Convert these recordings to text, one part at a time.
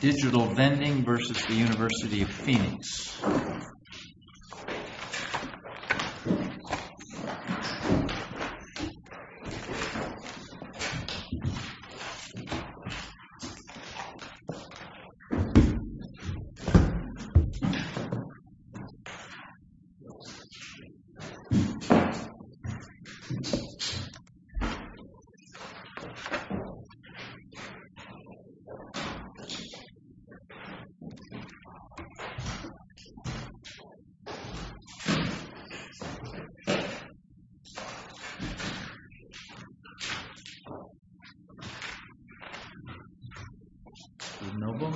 DIGITAL-VENDING v. UNIV OF PHOENIX DBSI Good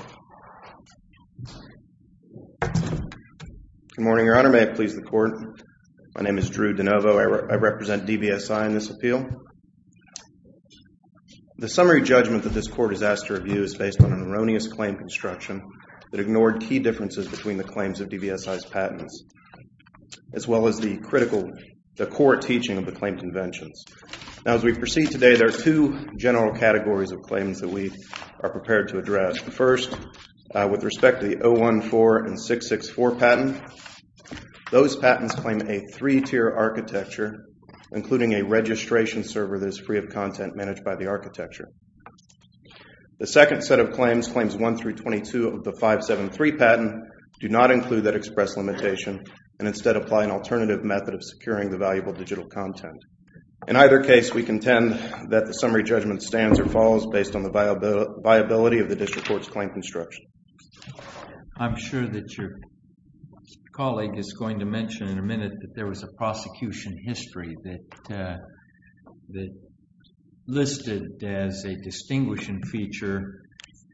morning, Your Honor. May it please the Court, my name is Drew DeNovo. I represent DBSI in this appeal. The summary judgment that this Court has asked to review is based on an erroneous claim construction that ignored key differences between the claims of DBSI's patents, as well as the core teaching of the claim conventions. As we proceed today, there are two general categories of claims that we are prepared to address. First, with respect to the 014 and 664 patent, those patents claim a three-tier architecture, including a registration server that is free of content managed by the architecture. The second set of claims, claims 1 through 22 of the 573 patent, do not include that express limitation and instead apply an alternative method of securing the valuable digital content. In either case, we contend that the summary judgment stands or falls based on the viability of the District Court's claim construction. I'm sure that your colleague is going to mention in a minute that there was a prosecution history that listed as a distinguishing feature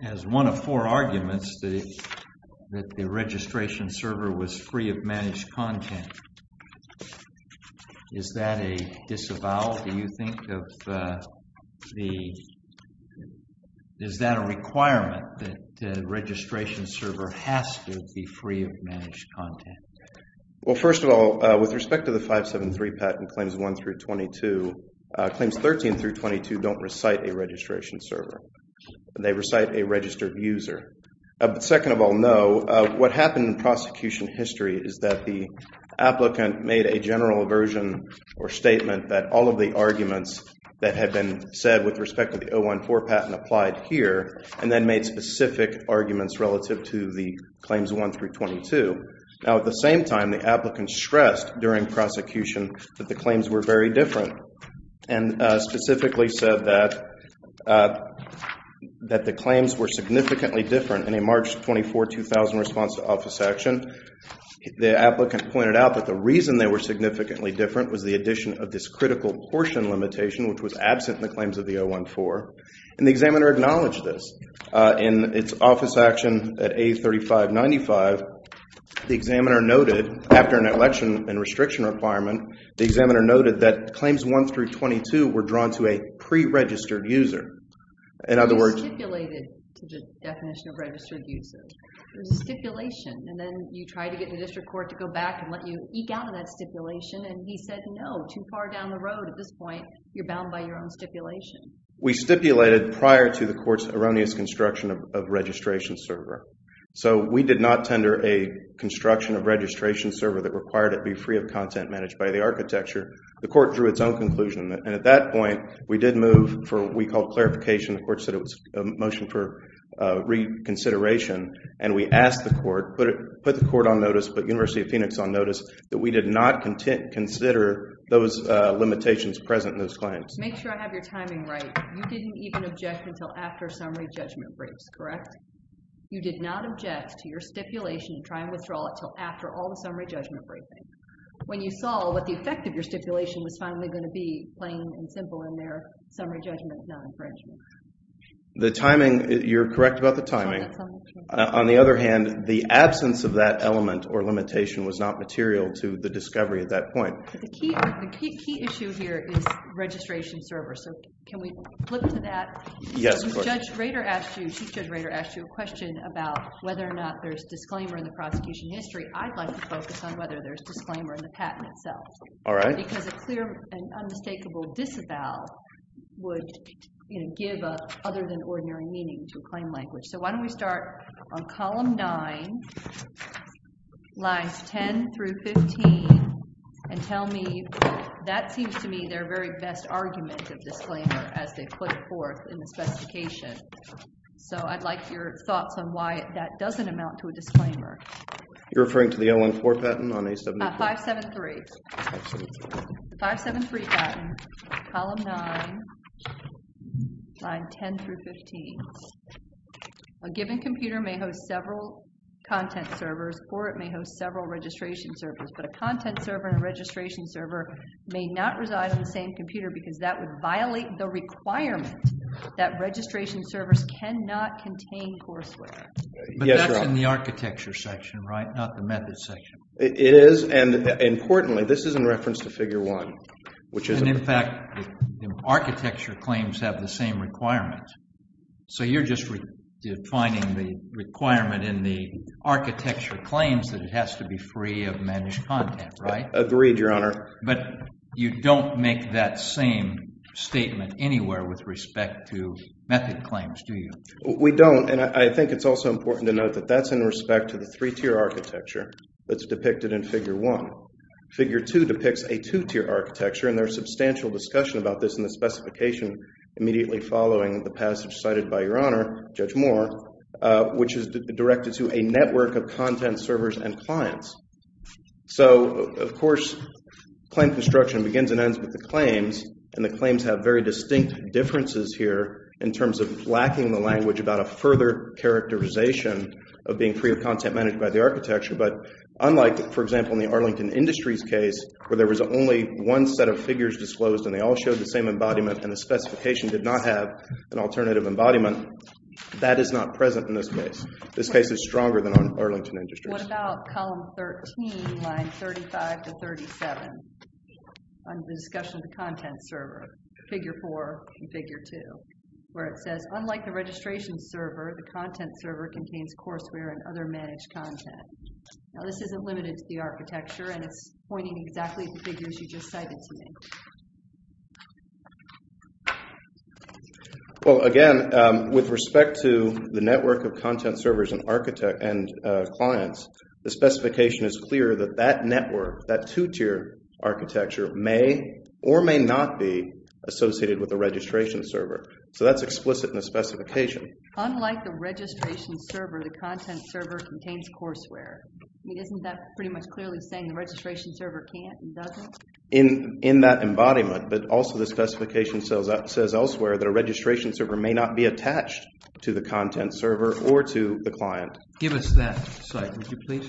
as one of four arguments that the registration server was free of managed content. Is that a disavowal? Do you think of the... Is that a requirement that the registration server has to be free of managed content? Well, first of all, with respect to the 573 patent claims 1 through 22, claims 13 through 22 don't recite a registration server. They recite a registered user. Second of all, no. What happened in prosecution history is that the applicant made a general version or statement that all of the arguments that had been said with respect to the 014 patent applied here and then made specific arguments relative to the claims 1 through 22. Now, at the same time, the applicant stressed during prosecution that the claims were very different and specifically said that the claims were significantly different in a March 24, 2000 response to office action. The applicant pointed out that the reason they were significantly different was the addition of this critical portion limitation, which was absent in the claims of the 014, and the examiner acknowledged this. In its office action at A3595, the examiner noted after an election and restriction requirement, the examiner noted that claims 1 through 22 were drawn to a preregistered user. In other words— You stipulated to the definition of registered user. There's a stipulation, and then you try to get the district court to go back and let you eke out of that stipulation, and he said, no, too far down the road at this point, you're bound by your own stipulation. We stipulated prior to the court's erroneous construction of registration server. So we did not tender a construction of registration server that required it be free of content managed by the architecture. The court drew its own conclusion, and at that point, we did move for what we called clarification. The court said it was a motion for reconsideration, and we asked the court, put the court on notice, put University of Phoenix on notice, that we did not consider those limitations present in those claims. Make sure I have your timing right. You didn't even object until after summary judgment breaks, correct? You did not object to your stipulation to try and withdraw it until after all the summary judgment briefing. When you saw what the effect of your stipulation was finally going to be, plain and simple in there, summary judgment is not infringement. The timing, you're correct about the timing. On the other hand, the absence of that element or limitation was not material to the discovery at that point. The key issue here is registration server. So can we flip to that? Yes, of course. Judge Rader asked you, Chief Judge Rader asked you a question about whether or not there's disclaimer in the prosecution history. I'd like to focus on whether there's disclaimer in the patent itself. All right. Because a clear and unmistakable disavow would give other than ordinary meaning to a claim language. So why don't we start on column 9, lines 10 through 15, and tell me that seems to me their very best argument of disclaimer as they put it forth in the specification. So I'd like your thoughts on why that doesn't amount to a disclaimer. You're referring to the L1-4 patent on A7? 573. 573 patent, column 9, line 10 through 15. A given computer may host several content servers or it may host several registration servers, but a content server and a registration server may not reside on the same computer because that would violate the requirement that registration servers cannot contain courseware. But that's in the architecture section, right, not the methods section. It is. And importantly, this is in reference to figure 1, which is in fact the architecture claims have the same requirement. So you're just defining the requirement in the architecture claims that it has to be free of managed content, right? Agreed, Your Honor. But you don't make that same statement anywhere with respect to method claims, do you? We don't. And I think it's also important to note that that's in respect to the three-tier architecture that's depicted in figure 1. Figure 2 depicts a two-tier architecture, and there's substantial discussion about this in the specification immediately following the passage cited by Your Honor, Judge Moore, which is directed to a network of content servers and clients. So, of course, claim construction begins and ends with the claims, and the claims have very distinct differences here in terms of lacking the language about a further characterization of being free of content managed by the architecture. But unlike, for example, in the Arlington Industries case where there was only one set of figures disclosed and they all showed the same embodiment and the specification did not have an alternative embodiment, that is not present in this case. This case is stronger than Arlington Industries. What about column 13, line 35 to 37 on the discussion of the content server, figure 4 and figure 2, where it says, Unlike the registration server, the content server contains courseware and other managed content. Now, this isn't limited to the architecture, and it's pointing exactly to the figures you just cited to me. Well, again, with respect to the network of content servers and clients, the specification is clear that that network, that two-tier architecture, may or may not be associated with the registration server. So that's explicit in the specification. Unlike the registration server, the content server contains courseware. I mean, isn't that pretty much clearly saying the registration server can't and doesn't? In that embodiment, but also the specification says elsewhere that a registration server may not be attached to the content server or to the client. Give us that slide, would you please?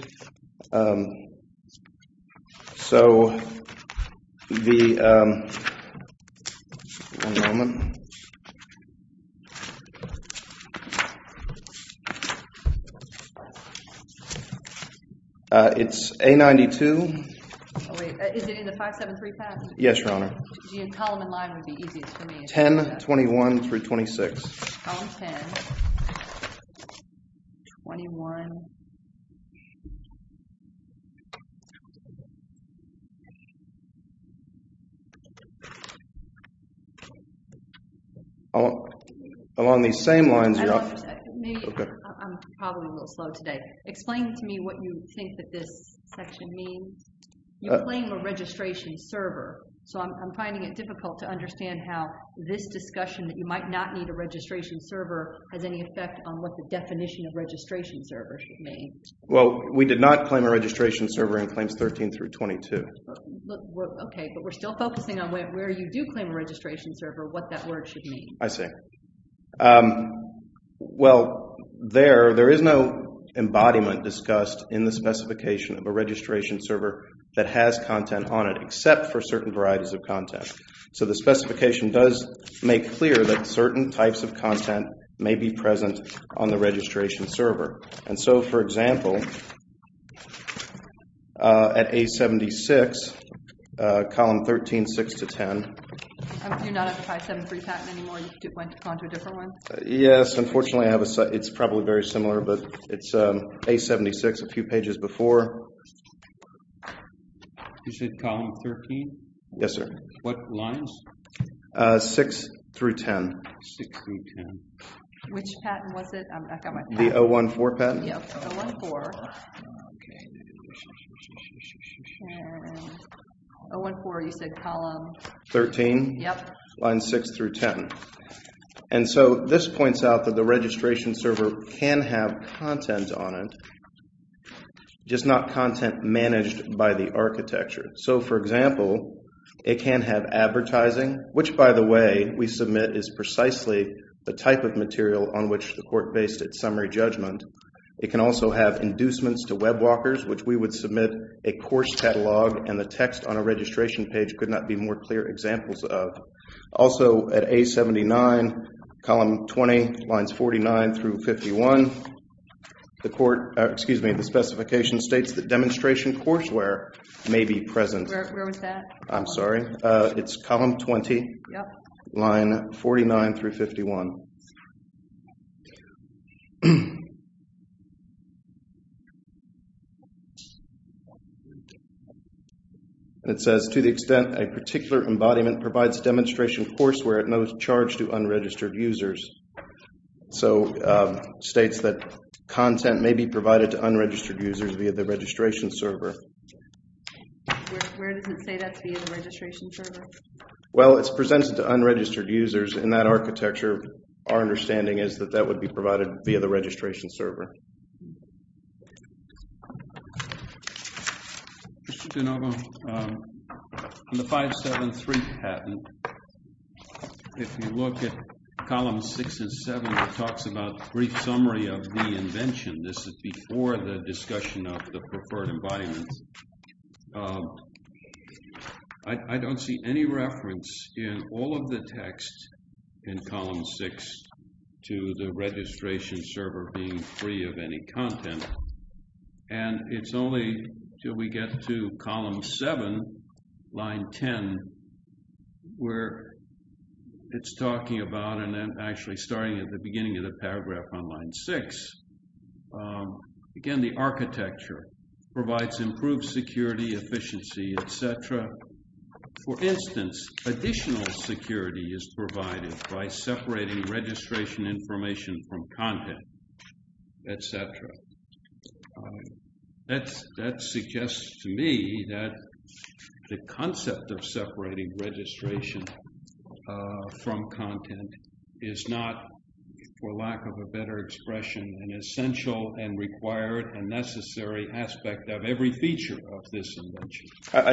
One moment. It's A92. Oh, wait. Is it in the 5735? Yes, Your Honor. The column and line would be easiest for me. 10, 21 through 26. Column 10, 21. Along these same lines, you're off. I'm probably a little slow today. Explain to me what you think that this section means. You claim a registration server, so I'm finding it difficult to understand how this discussion that you might not need a registration server has any effect on what the definition of registration server should mean. Well, we did not claim a registration server in Claims 13 through 22. Okay, but we're still focusing on where you do claim a registration server, what that word should mean. I see. Well, there is no embodiment discussed in the specification of a registration server that has content on it except for certain varieties of content. So the specification does make clear that certain types of content may be present on the registration server. And so, for example, at A76, column 13, 6 to 10. You're not on the 573 patent anymore? You went on to a different one? Yes, unfortunately, it's probably very similar, but it's A76, a few pages before. You said column 13? Yes, sir. What lines? 6 through 10. 6 through 10. Which patent was it? The 014 patent? Yes, 014. Okay. 014, you said column? 13? Yes. Lines 6 through 10. And so this points out that the registration server can have content on it, just not content managed by the architecture. So, for example, it can have advertising, which, by the way, we submit is precisely the type of material on which the court based its summary judgment. It can also have inducements to web walkers, which we would submit a course catalog, and the text on a registration page could not be more clear examples of. Also, at A79, column 20, lines 49 through 51, the court, excuse me, the specification states that demonstration courseware may be present. Where was that? I'm sorry. It's column 20, line 49 through 51. And it says, to the extent a particular embodiment provides demonstration courseware, it may be charged to unregistered users. So it states that content may be provided to unregistered users via the registration server. Where does it say that's via the registration server? Well, it's presented to unregistered users. In that architecture, our understanding is that that would be provided via the registration server. Mr. De Novo, on the 573 patent, if you look at column 6 and 7, it talks about brief summary of the invention. This is before the discussion of the preferred embodiment. I don't see any reference in all of the text in column 6 to the registration server being provided. And it's only until we get to column 7, line 10, where it's talking about and then actually starting at the beginning of the paragraph on line 6. Again, the architecture provides improved security, efficiency, et cetera. For instance, additional security is provided by separating registration information from content. Et cetera. That suggests to me that the concept of separating registration from content is not, for lack of a better expression, an essential and required and necessary aspect of every feature of this invention.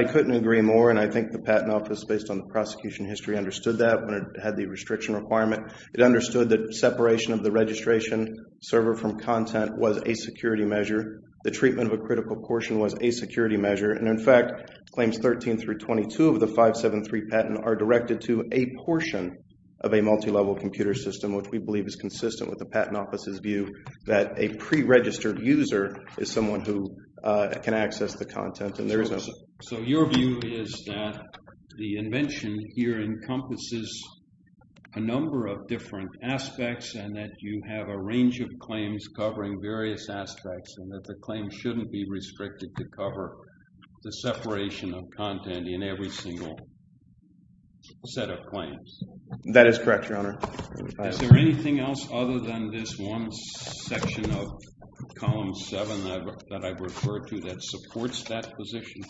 I couldn't agree more. And I think the Patent Office, based on the prosecution history, understood that when it had the restriction requirement. It understood that separation of the registration server from content was a security measure. The treatment of a critical portion was a security measure. And, in fact, claims 13 through 22 of the 573 patent are directed to a portion of a multi-level computer system, which we believe is consistent with the Patent Office's view that a pre-registered user is someone who can access the content. So your view is that the invention here encompasses a number of different aspects and that you have a range of claims covering various aspects and that the claims shouldn't be restricted to cover the separation of content in every single set of claims. That is correct, Your Honor. Is there anything else other than this one section of Column 7 that I've referred to that supports that position?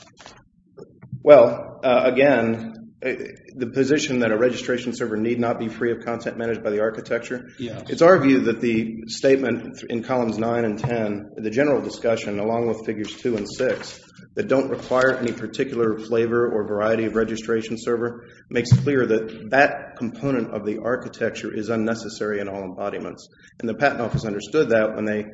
Well, again, the position that a registration server need not be free of content managed by the architecture, it's our view that the statement in Columns 9 and 10, the general discussion along with Figures 2 and 6, that don't require any particular flavor or variety of registration server, makes clear that that component of the architecture is unnecessary in all embodiments. And the Patent Office understood that when they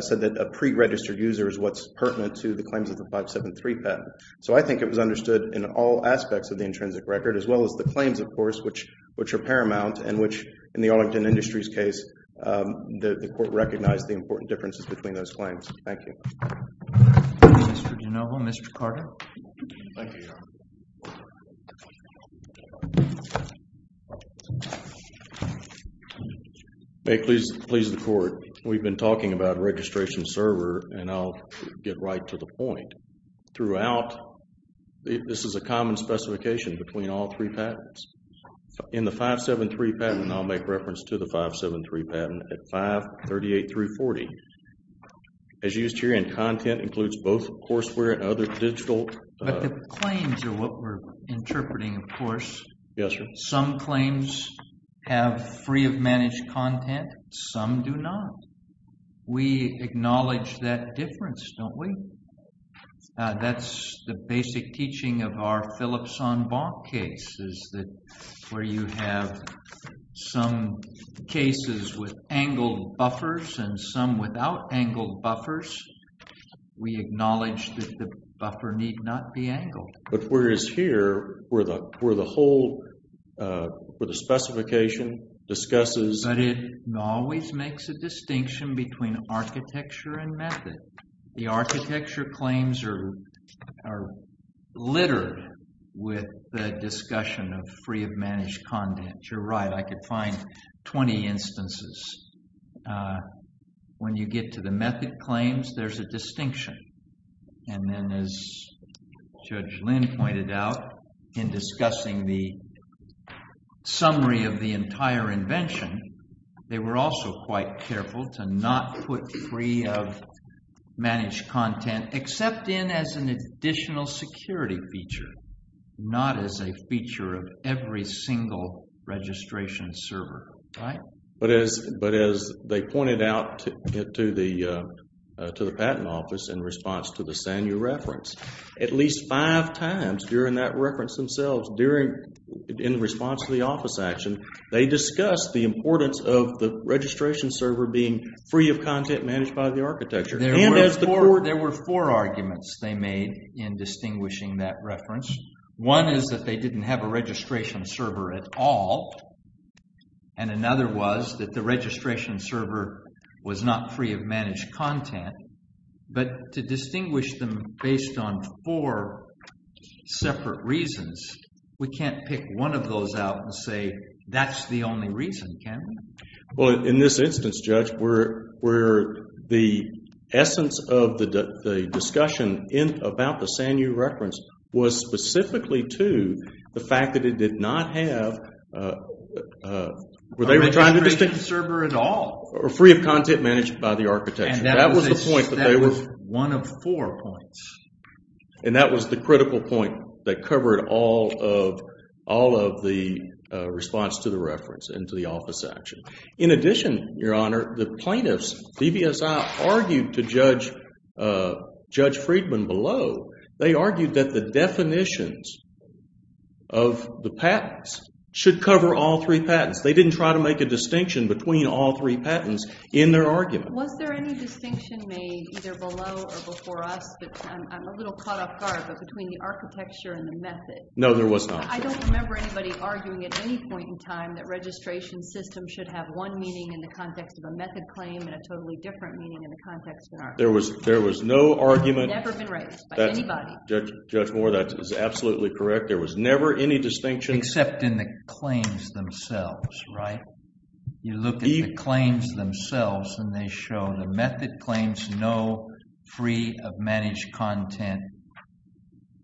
said that a pre-registered user is what's pertinent to the claims of the 573 patent. So I think it was understood in all aspects of the intrinsic record, as well as the claims, of course, which are paramount and which, in the Arlington Industries case, the Court recognized the important differences between those claims. Thank you. Mr. De Novo, Mr. Carter. Thank you, Your Honor. May it please the Court, we've been talking about registration server, and I'll get right to the point. Throughout, this is a common specification between all three patents. In the 573 patent, and I'll make reference to the 573 patent, at 538 through 40, as used here, and content includes both courseware and other digital… But the claims are what we're interpreting, of course. Yes, sir. Some claims have free of managed content, some do not. We acknowledge that difference, don't we? That's the basic teaching of our Phillips-on-Bonk case, is that where you have some cases with angled buffers and some without angled buffers, we acknowledge that the buffer need not be angled. But whereas here, where the whole, where the specification discusses… But it always makes a distinction between architecture and method. The architecture claims are littered with the discussion of free of managed content. You're right, I could find 20 instances. When you get to the method claims, there's a distinction. And then, as Judge Lynn pointed out, in discussing the summary of the entire invention, they were also quite careful to not put free of managed content, except in as an additional security feature, not as a feature of every single registration server, right? But as they pointed out to the patent office in response to the Sanyu reference, at least five times during that reference themselves, in response to the office action, they discussed the importance of the registration server being free of content managed by the architecture. There were four arguments they made in distinguishing that reference. One is that they didn't have a registration server at all. And another was that the registration server was not free of managed content. But to distinguish them based on four separate reasons, we can't pick one of those out and say that's the only reason, can we? Well, in this instance, Judge, where the essence of the discussion about the Sanyu reference was specifically to the fact that it did not have… A registration server at all. Free of content managed by the architecture. That was the point that they were… That was one of four points. And that was the critical point that covered all of the response to the reference and to the office action. In addition, Your Honor, the plaintiffs, DBSI, argued to Judge Friedman below, they argued that the definitions of the patents should cover all three patents. They didn't try to make a distinction between all three patents in their argument. Was there any distinction made either below or before us? I'm a little caught off guard, but between the architecture and the method. No, there was not. I don't remember anybody arguing at any point in time that registration systems should have one meaning in the context of a method claim and a totally different meaning in the context of an architecture claim. There was no argument… It had never been raised by anybody. Judge Moore, that is absolutely correct. There was never any distinction… Except in the claims themselves, right? You look at the claims themselves and they show the method claims know free of managed content.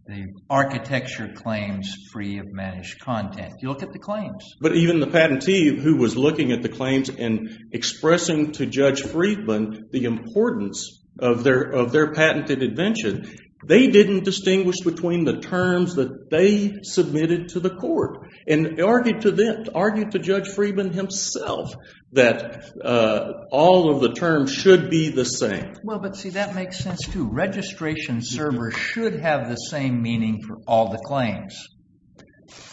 The architecture claims free of managed content. You look at the claims. But even the patentee who was looking at the claims and expressing to Judge Friedman the importance of their patented invention, they didn't distinguish between the terms that they submitted to the court and argued to Judge Friedman himself that all of the terms should be the same. Well, but see, that makes sense too. Registration server should have the same meaning for all the claims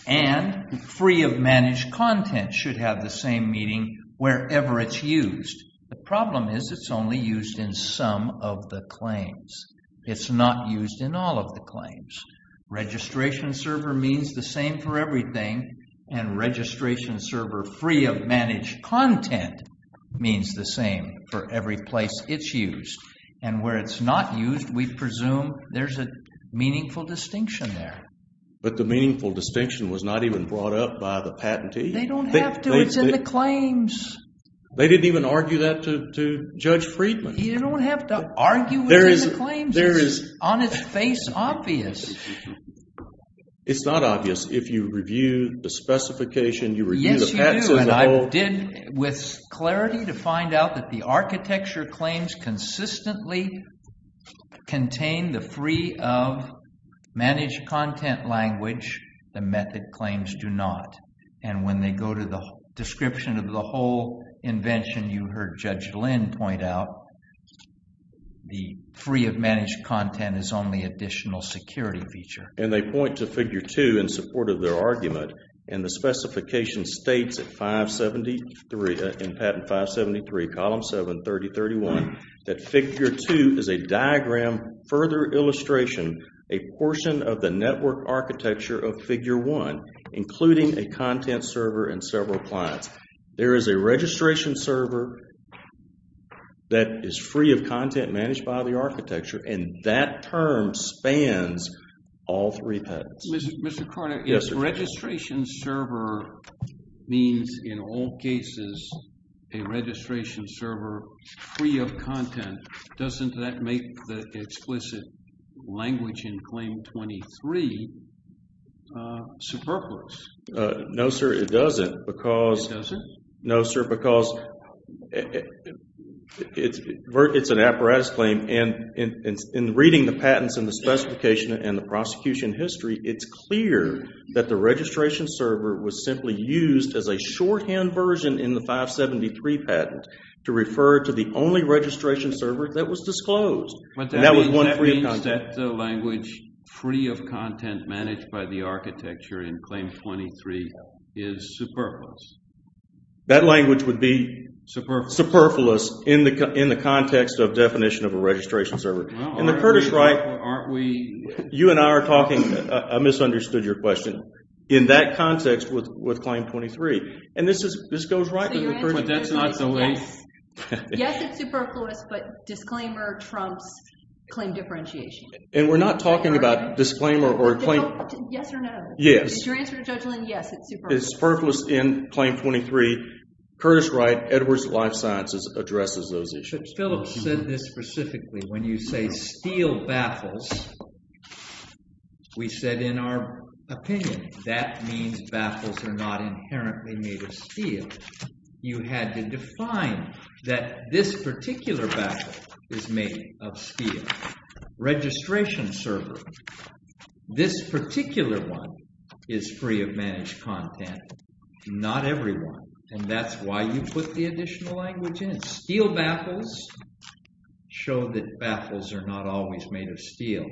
and free of managed content should have the same meaning wherever it's used. The problem is it's only used in some of the claims. It's not used in all of the claims. Registration server means the same for everything and registration server free of managed content means the same for every place it's used. And where it's not used, we presume there's a meaningful distinction there. But the meaningful distinction was not even brought up by the patentee. They don't have to. It's in the claims. They didn't even argue that to Judge Friedman. You don't have to argue it in the claims. The claims is on its face obvious. It's not obvious. If you review the specification, you review the facts as a whole. Yes, you do. And I did with clarity to find out that the architecture claims consistently contain the free of managed content language. The method claims do not. And when they go to the description of the whole invention, you heard Judge Lynn point out the free of managed content is only additional security feature. And they point to Figure 2 in support of their argument. And the specification states in Patent 573, Column 7, 3031, that Figure 2 is a diagram, further illustration, a portion of the network architecture of Figure 1, including a content server and several clients. There is a registration server that is free of content managed by the architecture, and that term spans all three patents. Mr. Carter, if registration server means, in all cases, a registration server free of content, doesn't that make the explicit language in Claim 23 superfluous? No, sir, it doesn't because No, sir? No, sir, because it's an apparatus claim. And in reading the patents and the specification and the prosecution history, it's clear that the registration server was simply used as a shorthand version in the 573 patent to refer to the only registration server that was disclosed. And that was one free of content. That language would be superfluous in the context of definition of a registration server. In the Curtis right, you and I are talking, I misunderstood your question, in that context with Claim 23. And this goes right to the Curtis right. But that's not the way. Yes, it's superfluous, but disclaimer trumps claim differentiation. And we're not talking about disclaimer or claim Yes or no. Yes. Is your answer to Judge Lynn, yes, it's superfluous. It's superfluous in Claim 23. Curtis right, Edwards Life Sciences addresses those issues. Phillips said this specifically. When you say steel baffles, we said in our opinion, that means baffles are not inherently made of steel. You had to define that this particular baffle is made of steel. Registration server. This particular one is free of managed content. Not everyone. And that's why you put the additional language in. Steel baffles show that baffles are not always made of steel.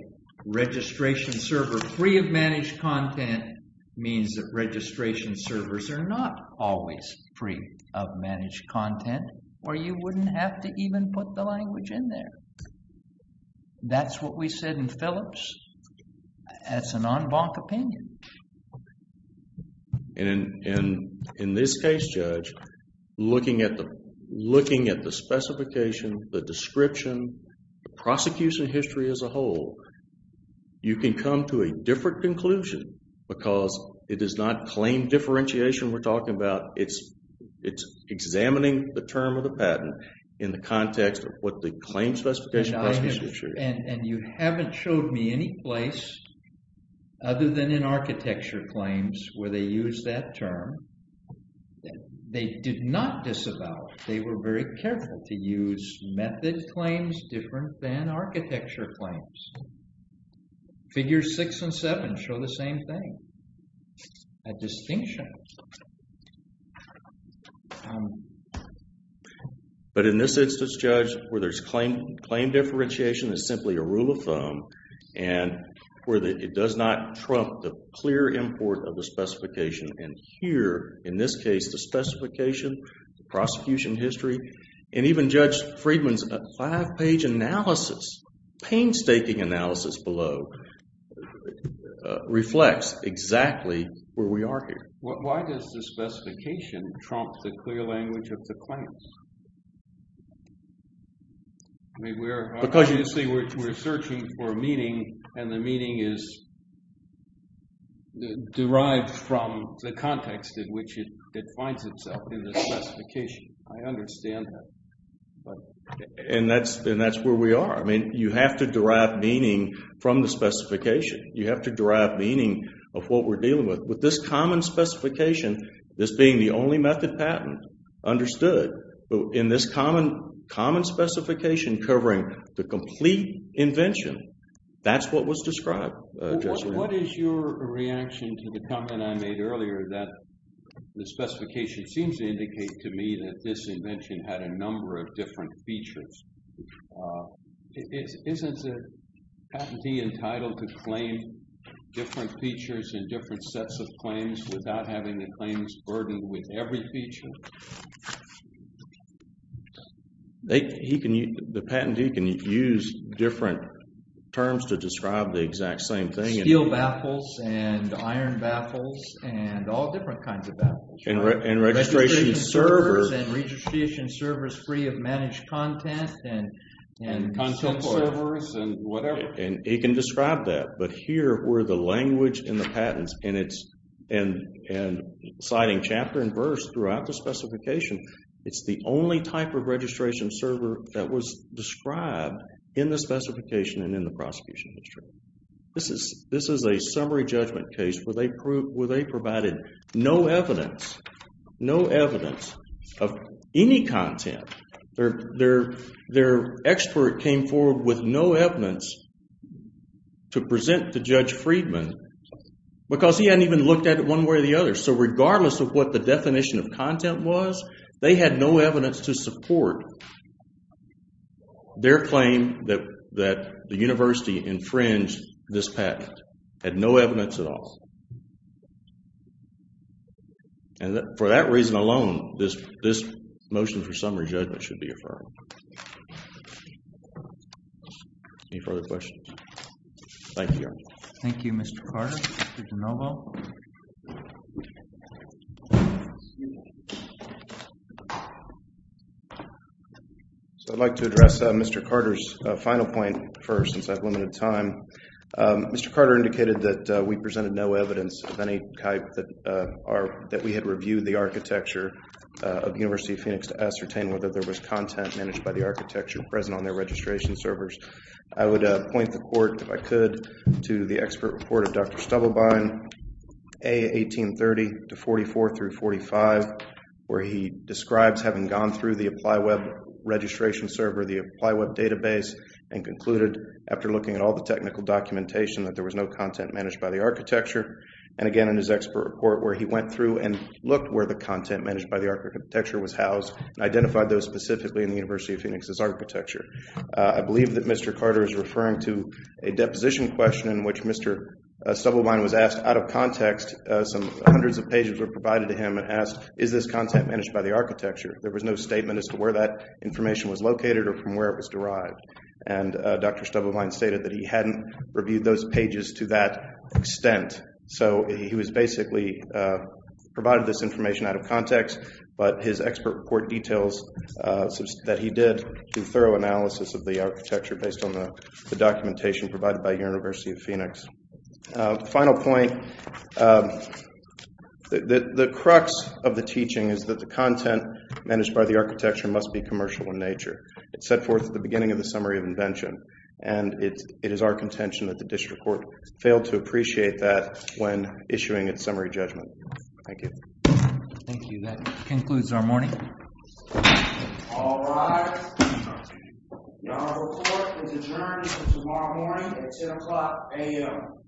Registration server free of managed content means that registration servers are not always free of managed content. Or you wouldn't have to even put the language in there. That's what we said in Phillips. That's a non-bonk opinion. And in this case, Judge, looking at the specification, the description, the prosecution history as a whole, you can come to a different conclusion because it is not claim differentiation we're talking about. It's examining the term of the patent in the context of what the claim specification is. And you haven't showed me any place other than in architecture claims where they use that term. They did not disavow it. They were very careful to use method claims different than architecture claims. Figures six and seven show the same thing. A distinction. But in this instance, Judge, where there's claim differentiation is simply a rule of thumb and where it does not trump the clear import of the specification. And here, in this case, the specification, the prosecution history, and even Judge Friedman's five-page analysis, painstaking analysis below, reflects exactly where we are here. Why does the specification trump the clear language of the claims? Because you see, we're searching for meaning and the meaning is derived from the context in which it finds itself in the specification. I understand that. And that's where we are. I mean, you have to derive meaning from the specification. You have to derive meaning of what we're dealing with. With this common specification, this being the only method patent understood, in this common specification covering the complete invention, that's what was described. What is your reaction to the comment I made earlier that the specification seems to indicate to me that this invention had a number of different features? Isn't the patentee entitled to claim different features and different sets of claims without having the claims burdened with every feature? The patentee can use different terms to describe the exact same thing. Steel baffles and iron baffles and all different kinds of baffles. And registration servers. And registration servers free of managed content. And content servers and whatever. And he can describe that. But here where the language in the patents and citing chapter and verse throughout the specification, it's the only type of registration server that was described in the specification and in the prosecution history. This is a summary judgment case where they provided no evidence, no evidence of any content. Their expert came forward with no evidence to present to Judge Friedman because he hadn't even looked at it one way or the other. So regardless of what the definition of content was, they had no evidence to support their claim that the university infringed this patent. Had no evidence at all. And for that reason alone, this motion for summary judgment should be affirmed. Any further questions? Thank you. Thank you, Mr. Carter. Mr. DeNovo. So I'd like to address Mr. Carter's final point first, since I have limited time. Mr. Carter indicated that we presented no evidence of any type that we had reviewed the architecture of the University of Phoenix to ascertain whether there was content managed by the architecture present on their registration servers. I would point the court, if I could, to the expert report of Dr. Stubblebine, A. 1830 to 44 through 45, where he describes having gone through the ApplyWeb registration server, the ApplyWeb database, and concluded, after looking at all the technical documentation, that there was no content managed by the architecture. And again, in his expert report, where he went through and looked where the content managed by the architecture was housed, and identified those specifically in the University of Phoenix's architecture. I believe that Mr. Carter is referring to a deposition question in which Mr. Stubblebine was asked, out of context, some hundreds of pages were provided to him and asked, is this content managed by the architecture? There was no statement as to where that information was located or from where it was derived. And Dr. Stubblebine stated that he hadn't reviewed those pages to that extent. So he was basically provided this information out of context, but his expert report details that he did through thorough analysis of the architecture based on the documentation provided by the University of Phoenix. Final point, the crux of the teaching is that the content managed by the architecture must be commercial in nature. It's set forth at the beginning of the summary of invention, and it is our contention that the district court failed to appreciate that when issuing its summary judgment. Thank you. Thank you. That concludes our morning. All rise. Our report is adjourned for tomorrow morning at 10 o'clock a.m.